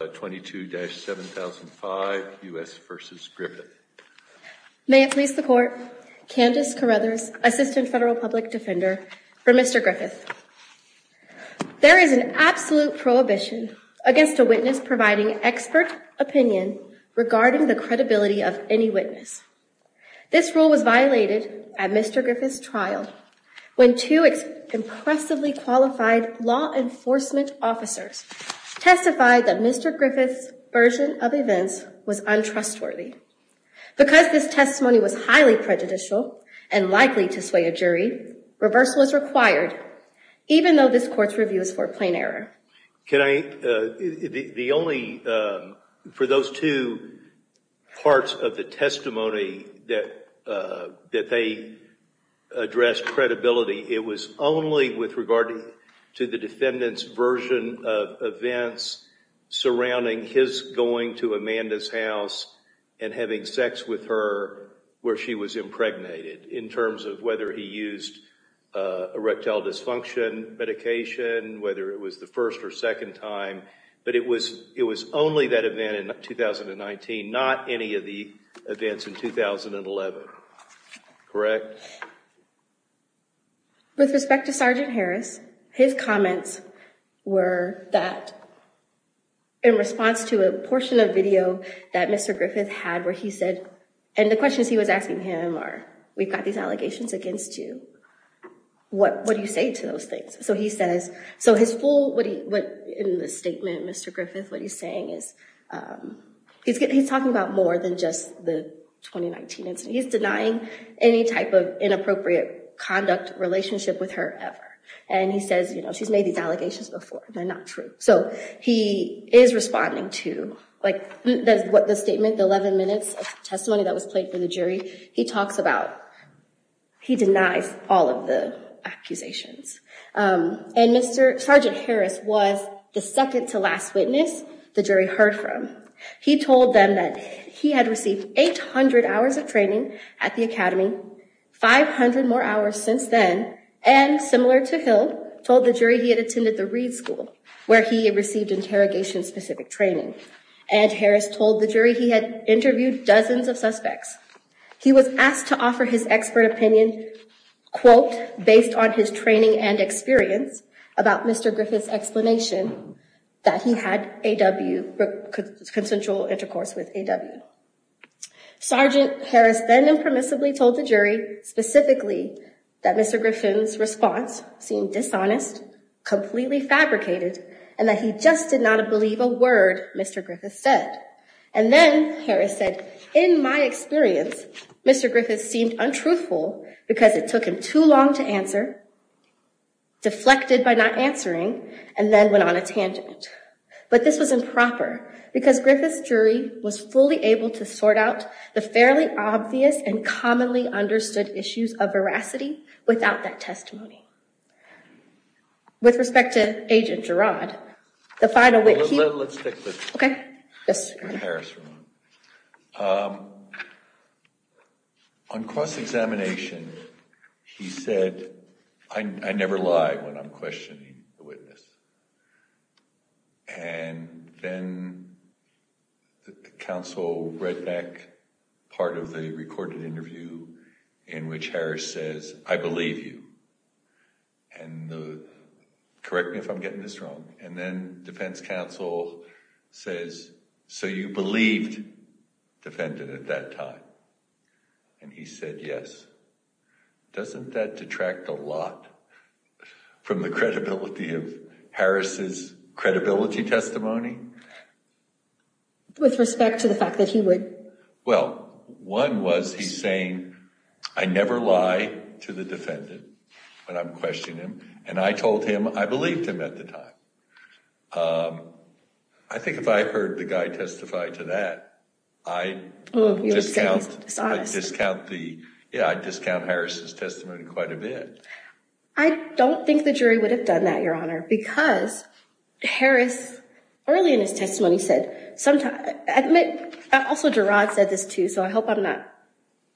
May it please the Court, Candice Carruthers, Assistant Federal Public Defender for Mr. Griffith. There is an absolute prohibition against a witness providing expert opinion regarding the credibility of any witness. This rule was violated at Mr. Griffith's trial when two impressively qualified law enforcement officers testified that Mr. Griffith's version of events was untrustworthy. Because this testimony was highly prejudicial and likely to sway a jury, reversal is required even though this Court's review is for a plain error. The only, for those two parts of the testimony that they addressed credibility, it was only with regard to the defendant's version of events surrounding his going to Amanda's house and having sex with her where she was impregnated in terms of whether he used erectile dysfunction medication, whether it was the first or second time. But it was only that event in 2019, not any of the events in 2011, correct? Correct. With respect to Sergeant Harris, his comments were that in response to a portion of video that Mr. Griffith had where he said, and the questions he was asking him are, we've got these allegations against you, what do you say to those things? So he says, so his full, in the statement, Mr. Griffith, what he's saying is, he's talking about more than just the 2019 incident. He's denying any type of inappropriate conduct relationship with her ever. And he says, she's made these allegations before, they're not true. So he is responding to, like the statement, the 11 minutes of testimony that was played for the jury, he talks about, he denies all of the accusations. And Sergeant Harris was the second to last witness the jury heard from. He told them that he had received 800 hours of training at the academy, 500 more hours since then. And similar to Hill, told the jury he had attended the Reed School, where he received interrogation specific training. And Harris told the jury he had interviewed dozens of suspects. He was asked to offer his expert opinion, quote, based on his training and experience about Mr. Griffith's explanation that he had AW, consensual intercourse with AW. Sergeant Harris then impermissibly told the jury, specifically, that Mr. Griffith's response seemed dishonest, completely fabricated, and that he just did not believe a word Mr. Griffith said. And then Harris said, in my experience, Mr. Griffith seemed untruthful because it took him too long to answer, deflected by not answering, and then went on a tangent. But this was improper, because Griffith's jury was fully able to sort out the fairly obvious and commonly understood issues of veracity without that testimony. With respect to Agent Girard, the final witness, he- Let's stick with- Okay. Yes. With Harris for a moment. On cross-examination, he said, I never lie when I'm questioning the witness. And then counsel Redneck, part of the recorded interview in which Harris says, I believe you, and correct me if I'm getting this wrong, and then defense counsel says, so you believed the defendant at that time? And he said, yes. Doesn't that detract a lot from the credibility of Harris's credibility testimony? With respect to the fact that he would- Well, one was he saying, I never lie to the defendant when I'm questioning him, and I told him I believed him at the time. I think if I heard the guy testify to that, I'd discount Harris's testimony quite a bit. I don't think the jury would have done that, Your Honor, because Harris, early in his testimony said- Also, Girard said this too, so I hope I'm not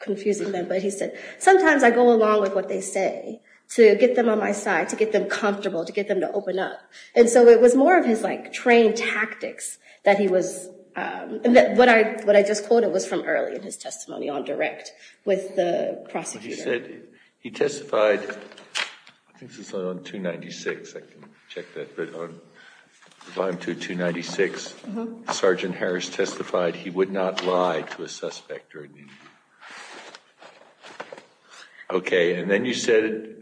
confusing them, but he said, sometimes I go along with what they say to get them on my side, to get them comfortable, to get them to open up. And so it was more of his trained tactics that he was- What I just quoted was from early in his testimony on direct with the prosecutor. He testified, I think this was on 296, I can check that, but on volume 2, 296, Sergeant Harris testified he would not lie to a suspect or an individual. Okay, and then you said-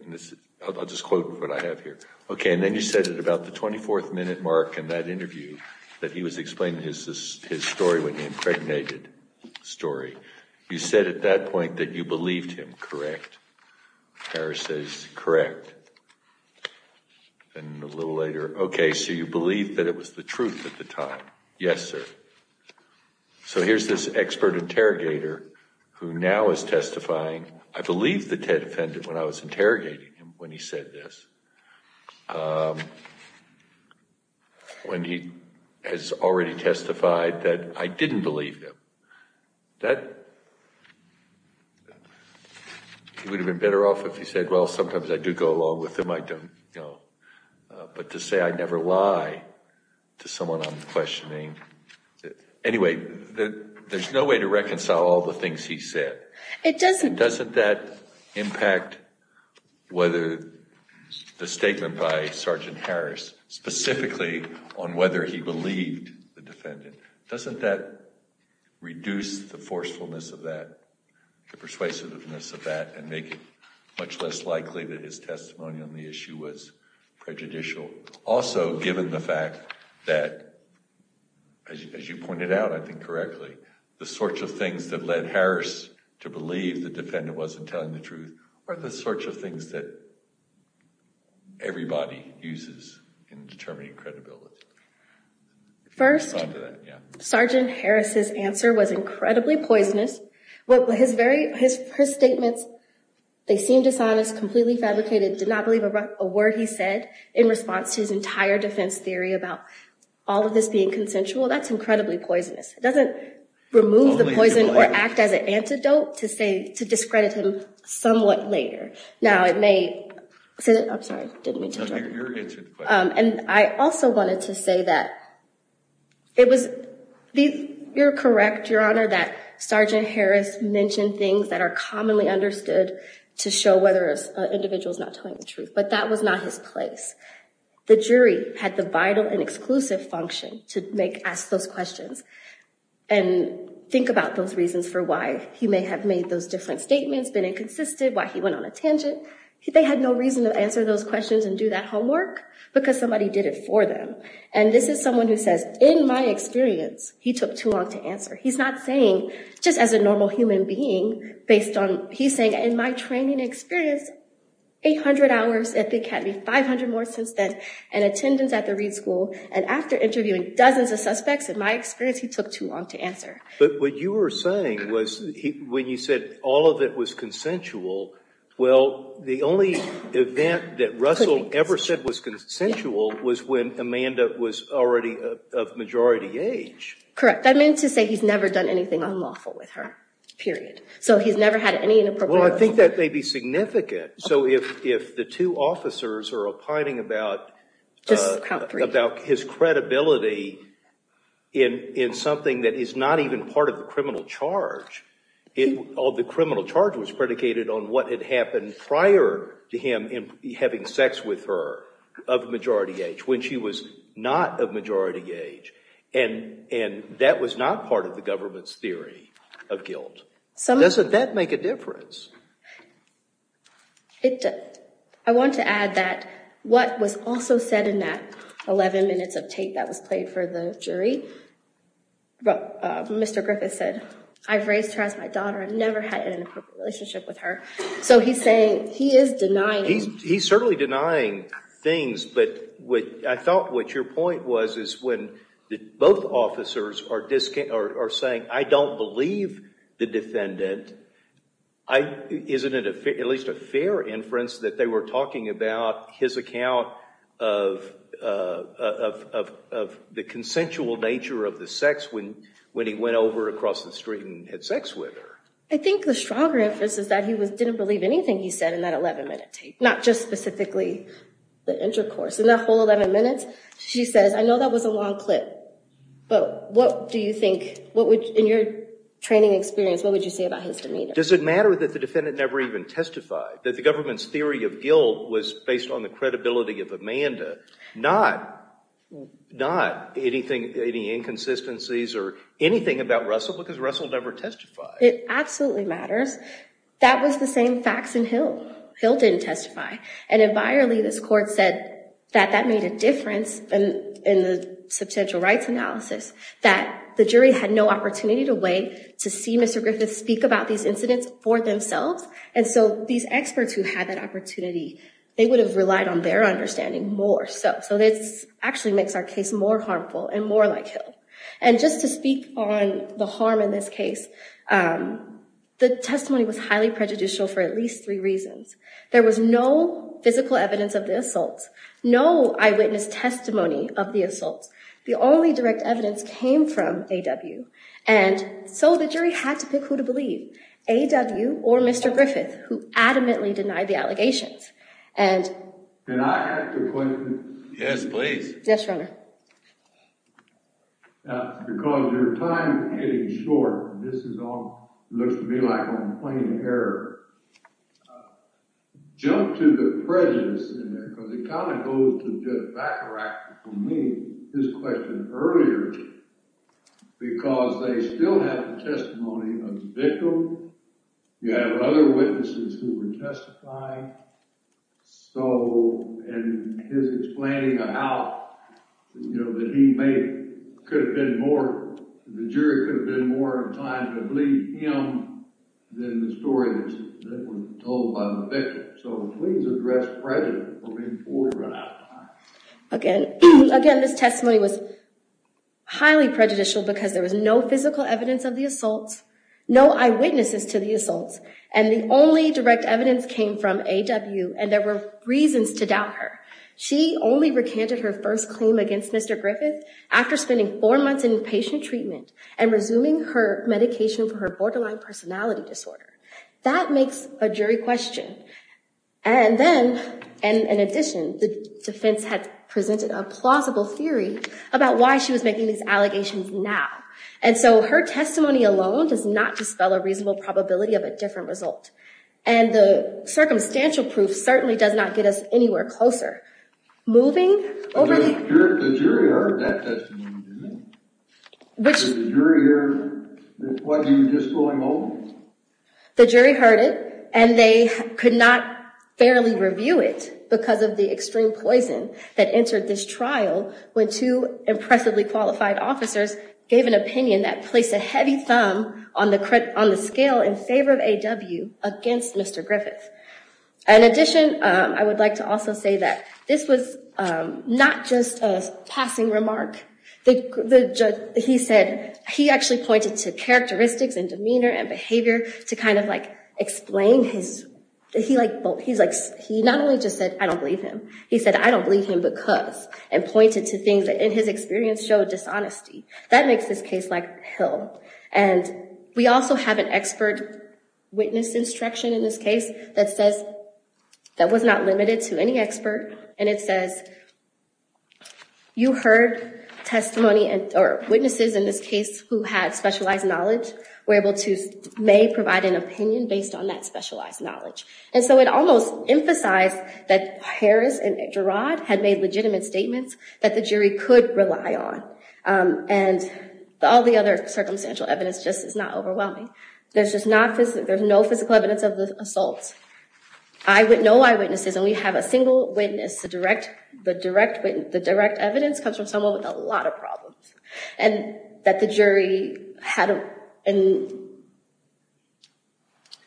I'll just quote what I have here. Okay, and then you said at about the 24th minute mark in that interview that he was explaining his story when he impregnated, story. You said at that point that you believed him, correct? Harris says, correct. And a little later, okay, so you believed that it was the truth at the time, yes, sir. So here's this expert interrogator who now is testifying. I believed the Ted defendant when I was interrogating him when he said this, when he has already testified that I didn't believe him. That- he would have been better off if he said, well, sometimes I do go along with them, I don't know. But to say I never lie to someone I'm questioning, anyway, there's no way to reconcile all the things he said. It doesn't- Doesn't that impact whether the statement by Sergeant Harris specifically on whether he believed the defendant, doesn't that reduce the forcefulness of that, the persuasiveness of that, and make it much less likely that his testimony on the issue was prejudicial? Also given the fact that, as you pointed out, I think correctly, the sorts of things that led Harris to believe the defendant wasn't telling the truth are the sorts of things that everybody uses in determining credibility. First, Sergeant Harris's answer was incredibly poisonous. His statements, they seemed dishonest, completely fabricated, did not believe a word he said in response to his entire defense theory about all of this being consensual. That's incredibly poisonous. It doesn't remove the poison or act as an antidote to discredit him somewhat later. Now it may- I'm sorry, didn't mean to interrupt. And I also wanted to say that it was- you're correct, Your Honor, that Sergeant Harris mentioned things that are commonly understood to show whether an individual is not telling the truth, but that was not his place. The jury had the vital and exclusive function to ask those questions and think about those reasons for why he may have made those different statements, been inconsistent, why he went on a tangent. They had no reason to answer those questions and do that homework because somebody did it for them. And this is someone who says, in my experience, he took too long to answer. He's not saying, just as a normal human being, based on- he's saying, in my training experience, 800 hours at the Academy, 500 more since then, and attendance at the Reed School, and after interviewing dozens of suspects, in my experience, he took too long to answer. But what you were saying was, when you said all of it was consensual, well, the only event that Russell ever said was consensual was when Amanda was already of majority age. Correct. I meant to say he's never done anything unlawful with her, period. So he's never had any inappropriate- Well, I think that may be significant. So if the two officers are opining about- Just count three. If they're opining about his credibility in something that is not even part of the criminal charge, or the criminal charge was predicated on what had happened prior to him having sex with her of majority age, when she was not of majority age, and that was not part of the government's theory of guilt, doesn't that make a difference? It does. I want to add that what was also said in that 11 minutes of tape that was played for the jury, Mr. Griffiths said, I've raised her as my daughter, I've never had an inappropriate relationship with her. So he's saying, he is denying- He's certainly denying things, but I thought what your point was is when both officers are saying, I don't believe the defendant, isn't it at least a fair inference that they were talking about his account of the consensual nature of the sex when he went over across the street and had sex with her? I think the stronger inference is that he didn't believe anything he said in that 11 minute tape, not just specifically the intercourse. In that whole 11 minutes, she says, I know that was a long clip, but what do you think, in your training experience, what would you say about his demeanor? Does it matter that the defendant never even testified, that the government's theory of guilt was based on the credibility of Amanda, not any inconsistencies or anything about Russell because Russell never testified? That was the same facts in Hill. Hill didn't testify. And environmentally, this court said that that made a difference in the substantial rights analysis, that the jury had no opportunity to wait to see Mr. Griffith speak about these incidents for themselves. And so these experts who had that opportunity, they would have relied on their understanding more. So this actually makes our case more harmful and more like Hill. And just to speak on the harm in this case, the testimony was highly prejudicial for at least three reasons. There was no physical evidence of the assaults, no eyewitness testimony of the assaults. The only direct evidence came from A.W. And so the jury had to pick who to believe, A.W. or Mr. Griffith, who adamantly denied the allegations. And... And I have a question. Yes, please. Yes, Your Honor. Now, because your time is getting short, and this is all, looks to me like I'm playing error. Jump to the presence in there, because it kind of goes to the backtrack from me, his question earlier, because they still have the testimony of the victim. You have other witnesses who were testifying. So, and his explaining of how, you know, that he may, could have been more, the jury could have been more inclined to believe him than the story that was told by the victim. So please address prejudice before we run out of time. Again, this testimony was highly prejudicial because there was no physical evidence of the assaults, no eyewitnesses to the assaults. And the only direct evidence came from A.W., and there were reasons to doubt her. She only recanted her first claim against Mr. Griffith after spending four months in inpatient treatment and resuming her medication for her borderline personality disorder. That makes a jury question. And then, and in addition, the defense had presented a plausible theory about why she was making these allegations now. And so her testimony alone does not dispel a reasonable probability of a different result. And the circumstantial proof certainly does not get us anywhere closer. Moving over the... The jury heard that testimony, didn't they? Which... Did the jury hear what you were just going over? The jury heard it, and they could not fairly review it because of the extreme poison that the two impressively qualified officers gave an opinion that placed a heavy thumb on the scale in favor of A.W. against Mr. Griffith. In addition, I would like to also say that this was not just a passing remark. The judge, he said, he actually pointed to characteristics and demeanor and behavior to kind of like explain his... He's like, he not only just said, I don't believe him. He said, I don't believe him because... And pointed to things that in his experience showed dishonesty. That makes this case like hell. And we also have an expert witness instruction in this case that says... That was not limited to any expert. And it says, you heard testimony or witnesses in this case who had specialized knowledge were able to... May provide an opinion based on that specialized knowledge. And so it almost emphasized that Harris and Gerard had made legitimate statements that the jury could rely on. And all the other circumstantial evidence just is not overwhelming. There's no physical evidence of the assault. No eyewitnesses. And we have a single witness. The direct evidence comes from someone with a lot of problems. And that the jury had...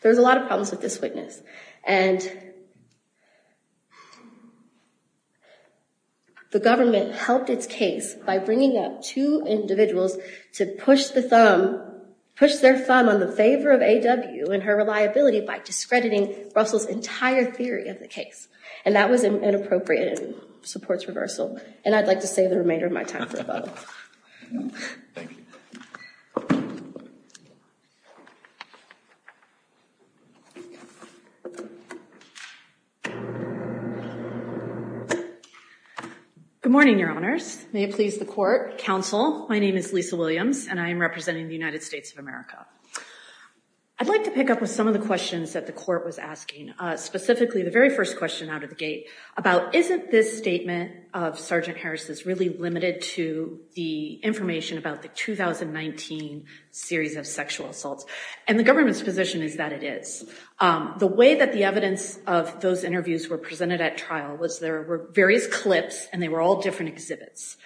There's a lot of problems with this witness. And... The government helped its case by bringing up two individuals to push the thumb... Push their thumb on the favor of A.W. and her reliability by discrediting Russell's entire theory of the case. And that was inappropriate and supports reversal. And I'd like to save the remainder of my time for a vote. Thank you. Thank you. Good morning, your honors. May it please the court. Counsel, my name is Lisa Williams. And I am representing the United States of America. I'd like to pick up with some of the questions that the court was asking. Specifically, the very first question out of the gate. About isn't this statement of Sergeant Harris' really limited to the information about the 2019 series of sexual assaults. And the government's position is that it is. The way that the evidence of those interviews were presented at trial was there were various clips and they were all different exhibits.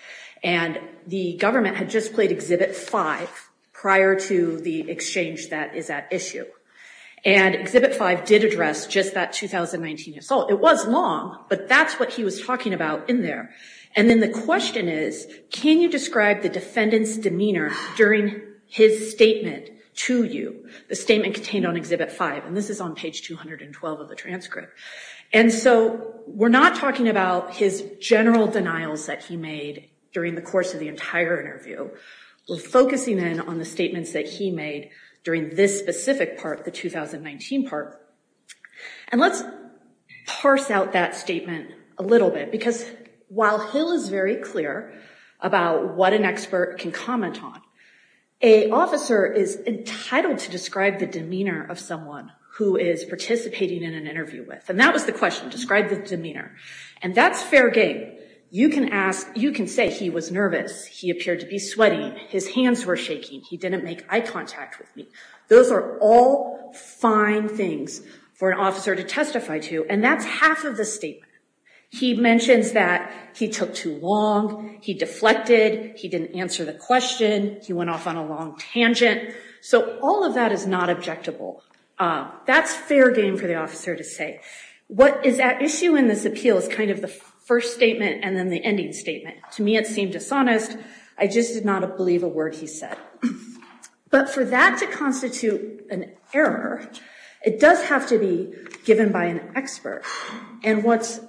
And the government had just played exhibit five prior to the exchange that is at issue. And exhibit five did address just that 2019 assault. It was long, but that's what he was talking about in there. And then the question is, can you describe the defendant's demeanor during his statement to you? The statement contained on exhibit five. And this is on page 212 of the transcript. And so we're not talking about his general denials that he made during the course of the entire interview. We're focusing in on the statements that he made during this specific part, the 2019 part. And let's parse out that statement a little bit. Because while Hill is very clear about what an expert can comment on, a officer is entitled to describe the demeanor of someone who is participating in an interview with. And that was the question. Describe the demeanor. And that's fair game. You can ask, you can say he was nervous. He appeared to be sweaty. His hands were shaking. He didn't make eye contact with me. Those are all fine things for an officer to testify to. And that's half of the statement. He mentions that he took too long. He deflected. He didn't answer the question. He went off on a long tangent. So all of that is not objectable. That's fair game for the officer to say. What is at issue in this appeal is kind of the first statement and then the ending statement. To me, it seemed dishonest. I just did not believe a word he said. But for that to constitute an error, it does have to be given by an expert. And what's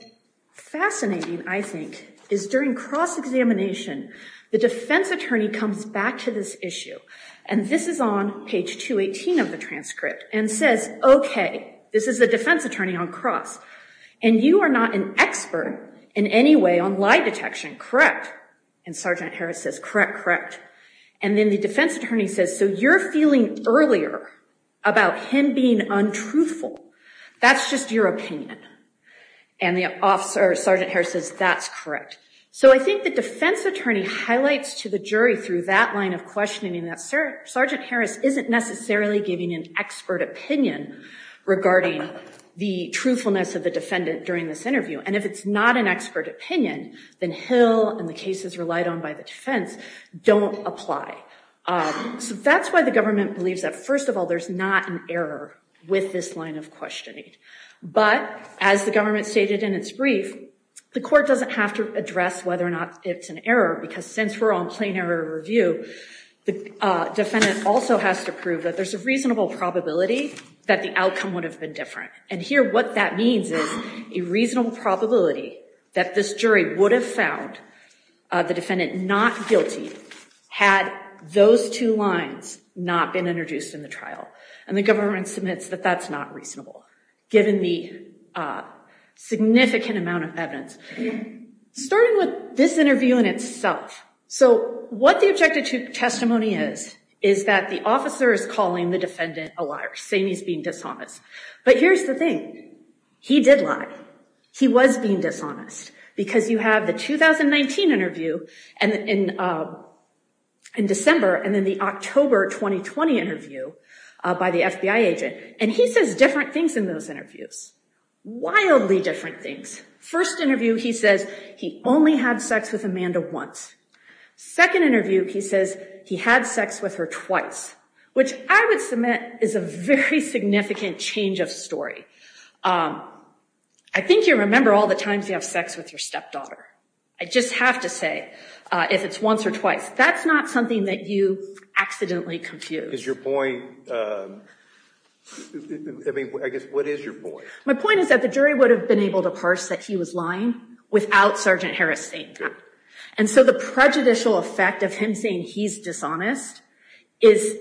fascinating, I think, is during cross-examination, the defense attorney comes back to this issue. And this is on page 218 of the transcript. And says, OK, this is the defense attorney on cross. And you are not an expert in any way on lie detection, correct? And Sergeant Harris says, correct, correct. And then the defense attorney says, so you're feeling earlier about him being untruthful. That's just your opinion. And Sergeant Harris says, that's correct. So I think the defense attorney highlights to the jury through that line of questioning that Sergeant Harris isn't necessarily giving an expert opinion regarding the truthfulness of the defendant during this interview. And if it's not an expert opinion, then Hill and the cases relied on by the defense don't apply. So that's why the government believes that, first of all, there's not an error with this line of questioning. But as the government stated in its brief, the court doesn't have to address whether or not it's an error because since we're on plain error review, the defendant also has to prove that there's a reasonable probability that the outcome would have been different. And here what that means is a reasonable probability that this jury would have found the defendant not guilty had those two lines not been introduced in the trial. And the government submits that that's not reasonable given the significant amount of evidence. Starting with this interview in itself. So what the objective testimony is, is that the officer is calling the defendant a liar. Saying he's being dishonest. But here's the thing. He did lie. He was being dishonest. Because you have the 2019 interview in December and then the October 2020 interview by the FBI agent. And he says different things in those interviews. Wildly different things. First interview he says he only had sex with Amanda once. Second interview he says he had sex with her twice. Which I would submit is a very significant change of story. I think you remember all the times you have sex with your stepdaughter. I just have to say if it's once or twice. That's not something that you accidentally confuse. Is your point, I mean, I guess what is your point? My point is that the jury would have been able to parse that he was lying without Sergeant Harris saying that. And so the prejudicial effect of him saying he's dishonest is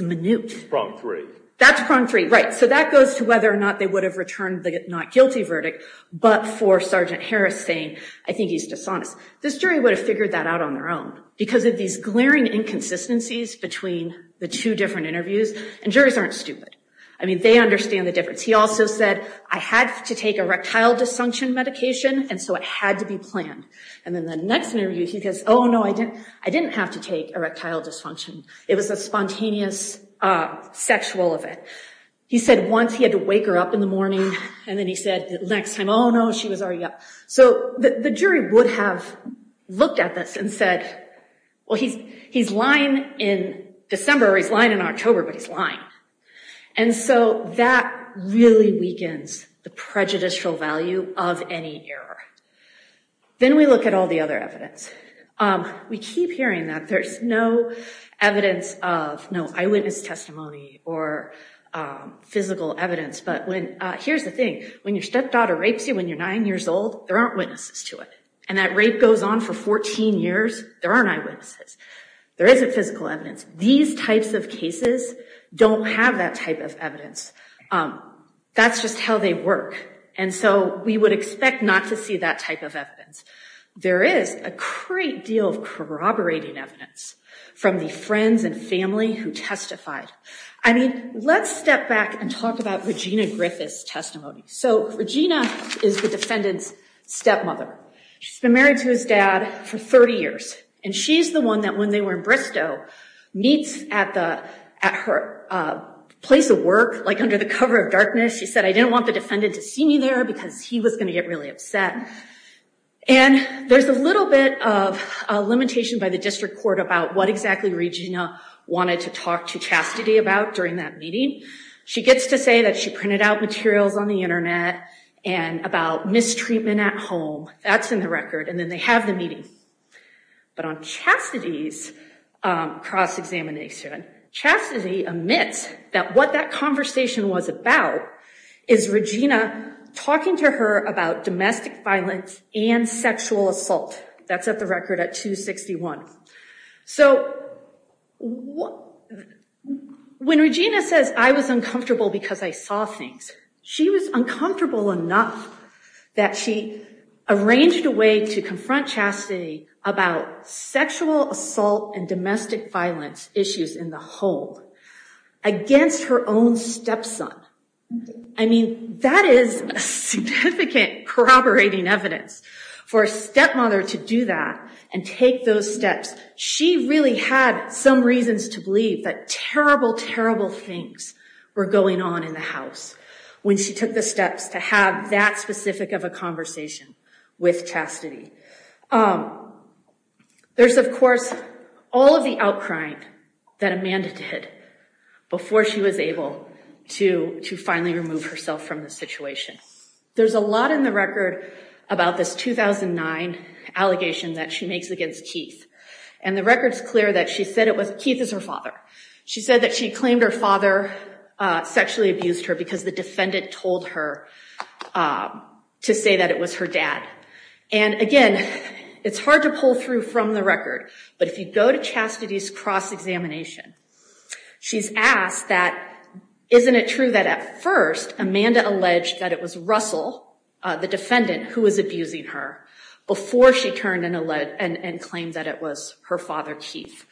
minute. Prong three. That's prong three, right. So that goes to whether or not they would have returned the not guilty verdict but for Sergeant Harris saying I think he's dishonest. This jury would have figured that out on their own because of these glaring inconsistencies between the two different interviews. And juries aren't stupid. I mean, they understand the difference. He also said I had to take erectile dysfunction medication and so it had to be planned. And then the next interview he says, oh, no, I didn't have to take erectile dysfunction. It was a spontaneous sexual event. He said once he had to wake her up in the morning and then he said the next time, oh, no, she was already up. So the jury would have looked at this and said, well, he's lying in December or he's lying in October but he's lying. And so that really weakens the prejudicial value of any error. Then we look at all the other evidence. We keep hearing that there's no evidence of, no eyewitness testimony or physical evidence. But here's the thing, when your stepdaughter rapes you when you're nine years old, there aren't witnesses to it. And that rape goes on for 14 years, there aren't eyewitnesses. There isn't physical evidence. These types of cases don't have that type of evidence. That's just how they work. And so we would expect not to see that type of evidence. There is a great deal of corroborating evidence from the friends and family who testified. I mean, let's step back and talk about Regina Griffith's testimony. So Regina is the defendant's stepmother. She's been married to his dad for 30 years. And she's the one that, when they were in Bristow, meets at her place of work, like under the cover of darkness. She said, I didn't want the defendant to see me there because he was going to get really upset. And there's a little bit of a limitation by the district court about what exactly Regina wanted to talk to Chastity about during that meeting. She gets to say that she printed out materials on the internet and about mistreatment at home. That's in the record. And then they have the meeting. But on Chastity's cross-examination, Chastity admits that what that conversation was about is Regina talking to her about domestic violence and sexual assault. That's at the record at 261. So when Regina says, I was uncomfortable because I saw things, she was uncomfortable enough that she arranged a way to confront Chastity about sexual assault and domestic violence issues in the hold against her own stepson. I mean, that is significant corroborating evidence for a stepmother to do that and take those steps. She really had some reasons to believe that terrible, terrible things were going on in the house when she took the steps to have that specific of a conversation with Chastity. There's, of course, all of the outcrying that Amanda did before she was able to finally remove herself from the situation. There's a lot in the record about this 2009 allegation that she makes against Keith. And the record's clear that she said it was Keith is her father. She said that she claimed her father sexually abused her because the defendant told her to say that it was her dad. And again, it's hard to pull through from the record. But if you go to Chastity's cross-examination, she's asked that, isn't it true that at first Amanda alleged that it was Russell, the defendant, who was abusing her before she turned and claimed that it was her father, Keith?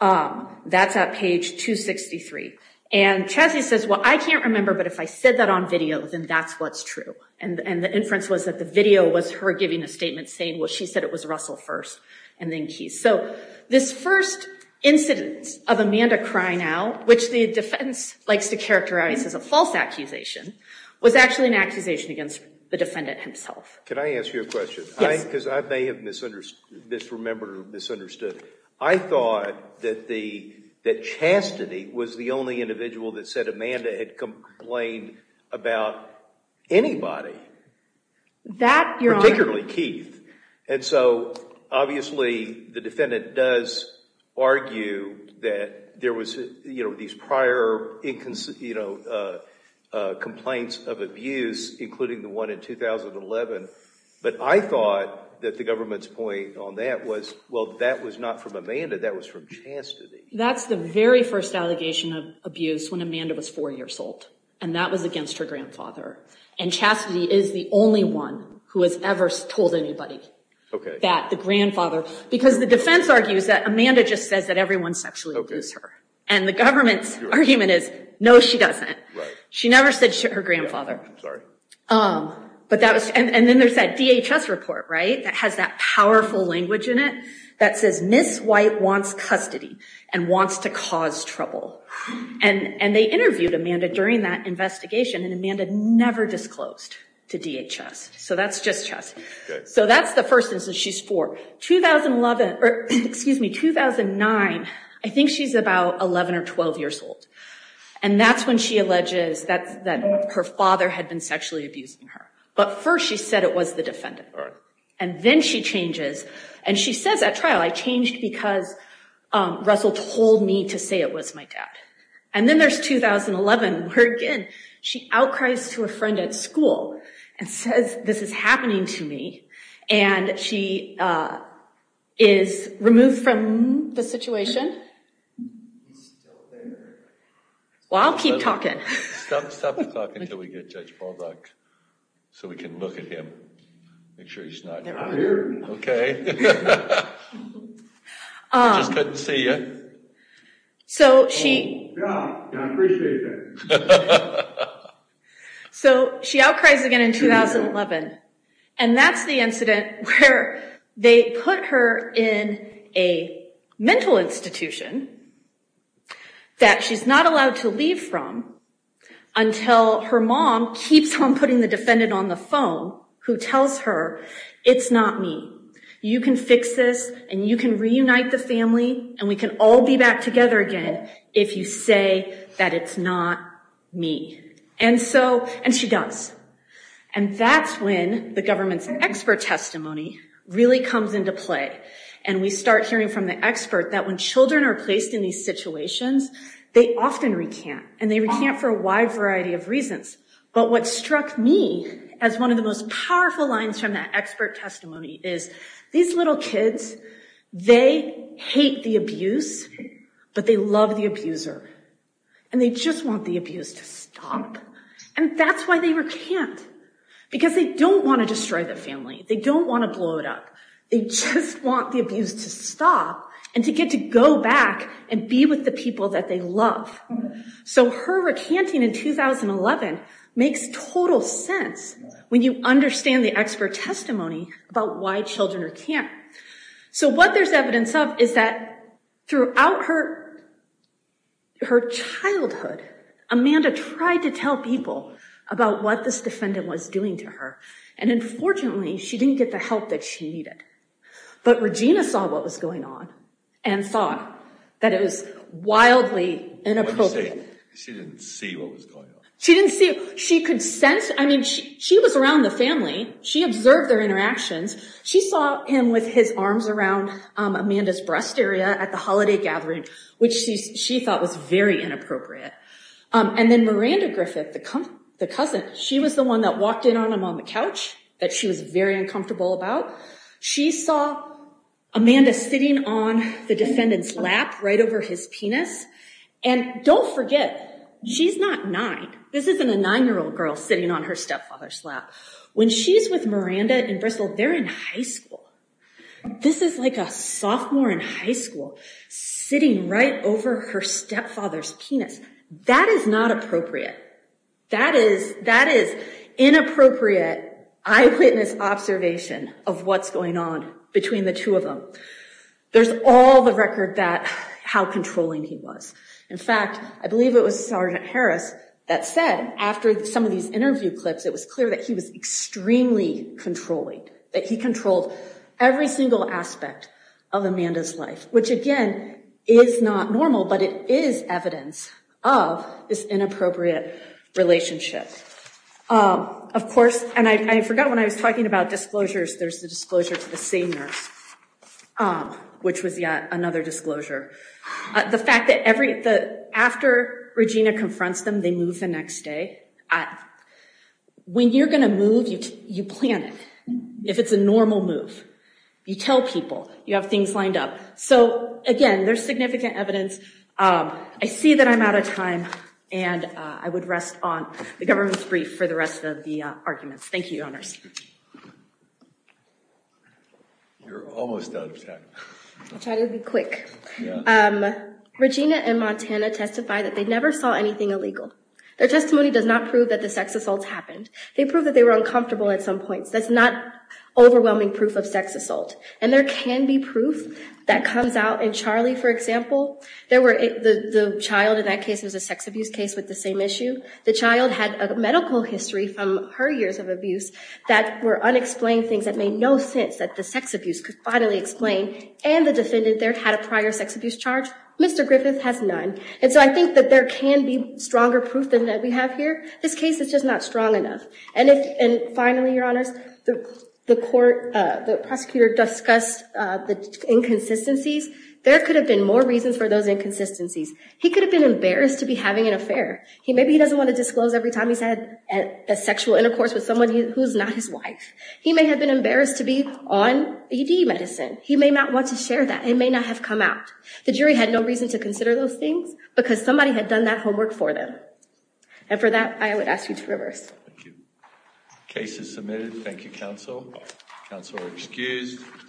That's at page 263. And Chastity says, well, I can't remember, but if I said that on video, then that's what's true. And the inference was that the video was her giving a statement saying, well, she said it was Russell first and then Keith. So this first incident of Amanda crying out, which the defense likes to characterize as a false accusation, was actually an accusation against the defendant himself. Can I ask you a question? Yes. Because I may have misremembered or misunderstood. I thought that Chastity was the only individual that said Amanda had complained about anybody, particularly Keith. And so obviously, the defendant does that there was these prior complaints of abuse, including the one in 2011. But I thought that the government's point on that was, well, that was not from Amanda. That was from Chastity. That's the very first allegation of abuse when Amanda was four years old. And that was against her grandfather. And Chastity is the only one who has ever told anybody that, the grandfather. Because the defense argues that Amanda just says that everyone sexually abused her. And the government's argument is, no, she doesn't. She never said her grandfather. And then there's that DHS report that has that powerful language in it that says, Miss White wants custody and wants to cause trouble. And they interviewed Amanda during that investigation. And Amanda never disclosed to DHS. So that's just Chastity. So that's the first instance she's four. 2009, I think she's about 11 or 12 years old. And that's when she alleges that her father had been sexually abusing her. But first she said it was the defendant. And then she changes. And she says at trial, I changed because Russell told me to say it was my dad. And then there's 2011, where again, she outcries to a friend at school and says, this is happening to me. And she is removed from the situation. Well, I'll keep talking. Stop the talking until we get Judge Baldock so we can look at him. Make sure he's not here. I'm here. OK. I just couldn't see you. So she. Yeah. Yeah, I appreciate that. So she outcries again in 2011. And that's the incident where they put her in a mental institution that she's not allowed to leave from until her mom keeps on putting the defendant on the phone, who tells her, it's not me. You can fix this. And you can reunite the family. And we can all be back together again if you say that it's not me. And she does. And that's when the government's expert testimony really comes into play. And we start hearing from the expert that when children are placed in these situations, they often recant. And they recant for a wide variety of reasons. But what struck me as one of the most powerful lines from that expert testimony is these little kids, they hate the abuse, but they love the abuser. And they just want the abuse to stop. And that's why they recant. Because they don't want to destroy the family. They don't want to blow it up. They just want the abuse to stop and to get to go back and be with the people that they love. So her recanting in 2011 makes total sense when you understand the expert testimony about why children recant. So what there's evidence of is that throughout her childhood, Amanda tried to tell people about what this defendant was doing to her. And unfortunately, she didn't get the help that she needed. But Regina saw what was going on and thought that it was wildly inappropriate. She didn't see what was going on. She didn't see. She could sense. I mean, she was around the family. She observed their interactions. She saw him with his arms around Amanda's breast area at the holiday gathering, which she thought was very inappropriate. And then Miranda Griffith, the cousin, she was the one that walked in on him on the couch that she was very uncomfortable about. She saw Amanda sitting on the defendant's lap right over his penis. And don't forget, she's not nine. This isn't a nine-year-old girl sitting on her stepfather's lap. When she's with Miranda in Bristol, they're in high school. This is like a sophomore in high school sitting right over her stepfather's penis. That is not appropriate. That is inappropriate eyewitness observation of what's going on between the two of them. There's all the record that how controlling he was. In fact, I believe it was Sergeant Harris that said after some of these interview clips it was clear that he was extremely controlling, that he controlled every single aspect of Amanda's life, which again is not normal, but it is evidence of this inappropriate relationship. Of course, and I forgot when I was talking about disclosures, there's the disclosure to the same nurse, which was yet another disclosure. The fact that after Regina confronts them, they move the next day. When you're going to move, you plan it. If it's a normal move, you tell people. You have things lined up. So again, there's significant evidence. I see that I'm out of time, and I would rest on the government's brief for the rest of the arguments. Thank you, Your Honors. You're almost out of time. I'll try to be quick. Regina and Montana testify that they never saw anything illegal. Their testimony does not prove that the sex assaults happened. They prove that they were uncomfortable at some points. That's not overwhelming proof of sex assault. And there can be proof that comes out in Charlie, for example. The child in that case was a sex abuse case with the same issue. The child had a medical history from her years of abuse that were unexplained things that made no sense that the sex abuse could finally explain. And the defendant there had a prior sex abuse charge. Mr. Griffith has none. And so I think that there can be stronger proof than that we have here. This case is just not strong enough. And finally, Your Honors, the prosecutor discussed the inconsistencies. There could have been more reasons for those inconsistencies. He could have been embarrassed to be having an affair. Maybe he doesn't want to disclose every time he's had a sexual intercourse with someone who's not his wife. He may have been embarrassed to be on ED medicine. He may not want to share that. It may not have come out. The jury had no reason to consider those things because somebody had done that homework for them. And for that, I would ask you to reverse. Thank you. Case is submitted. Thank you, Counsel. Counsel is excused.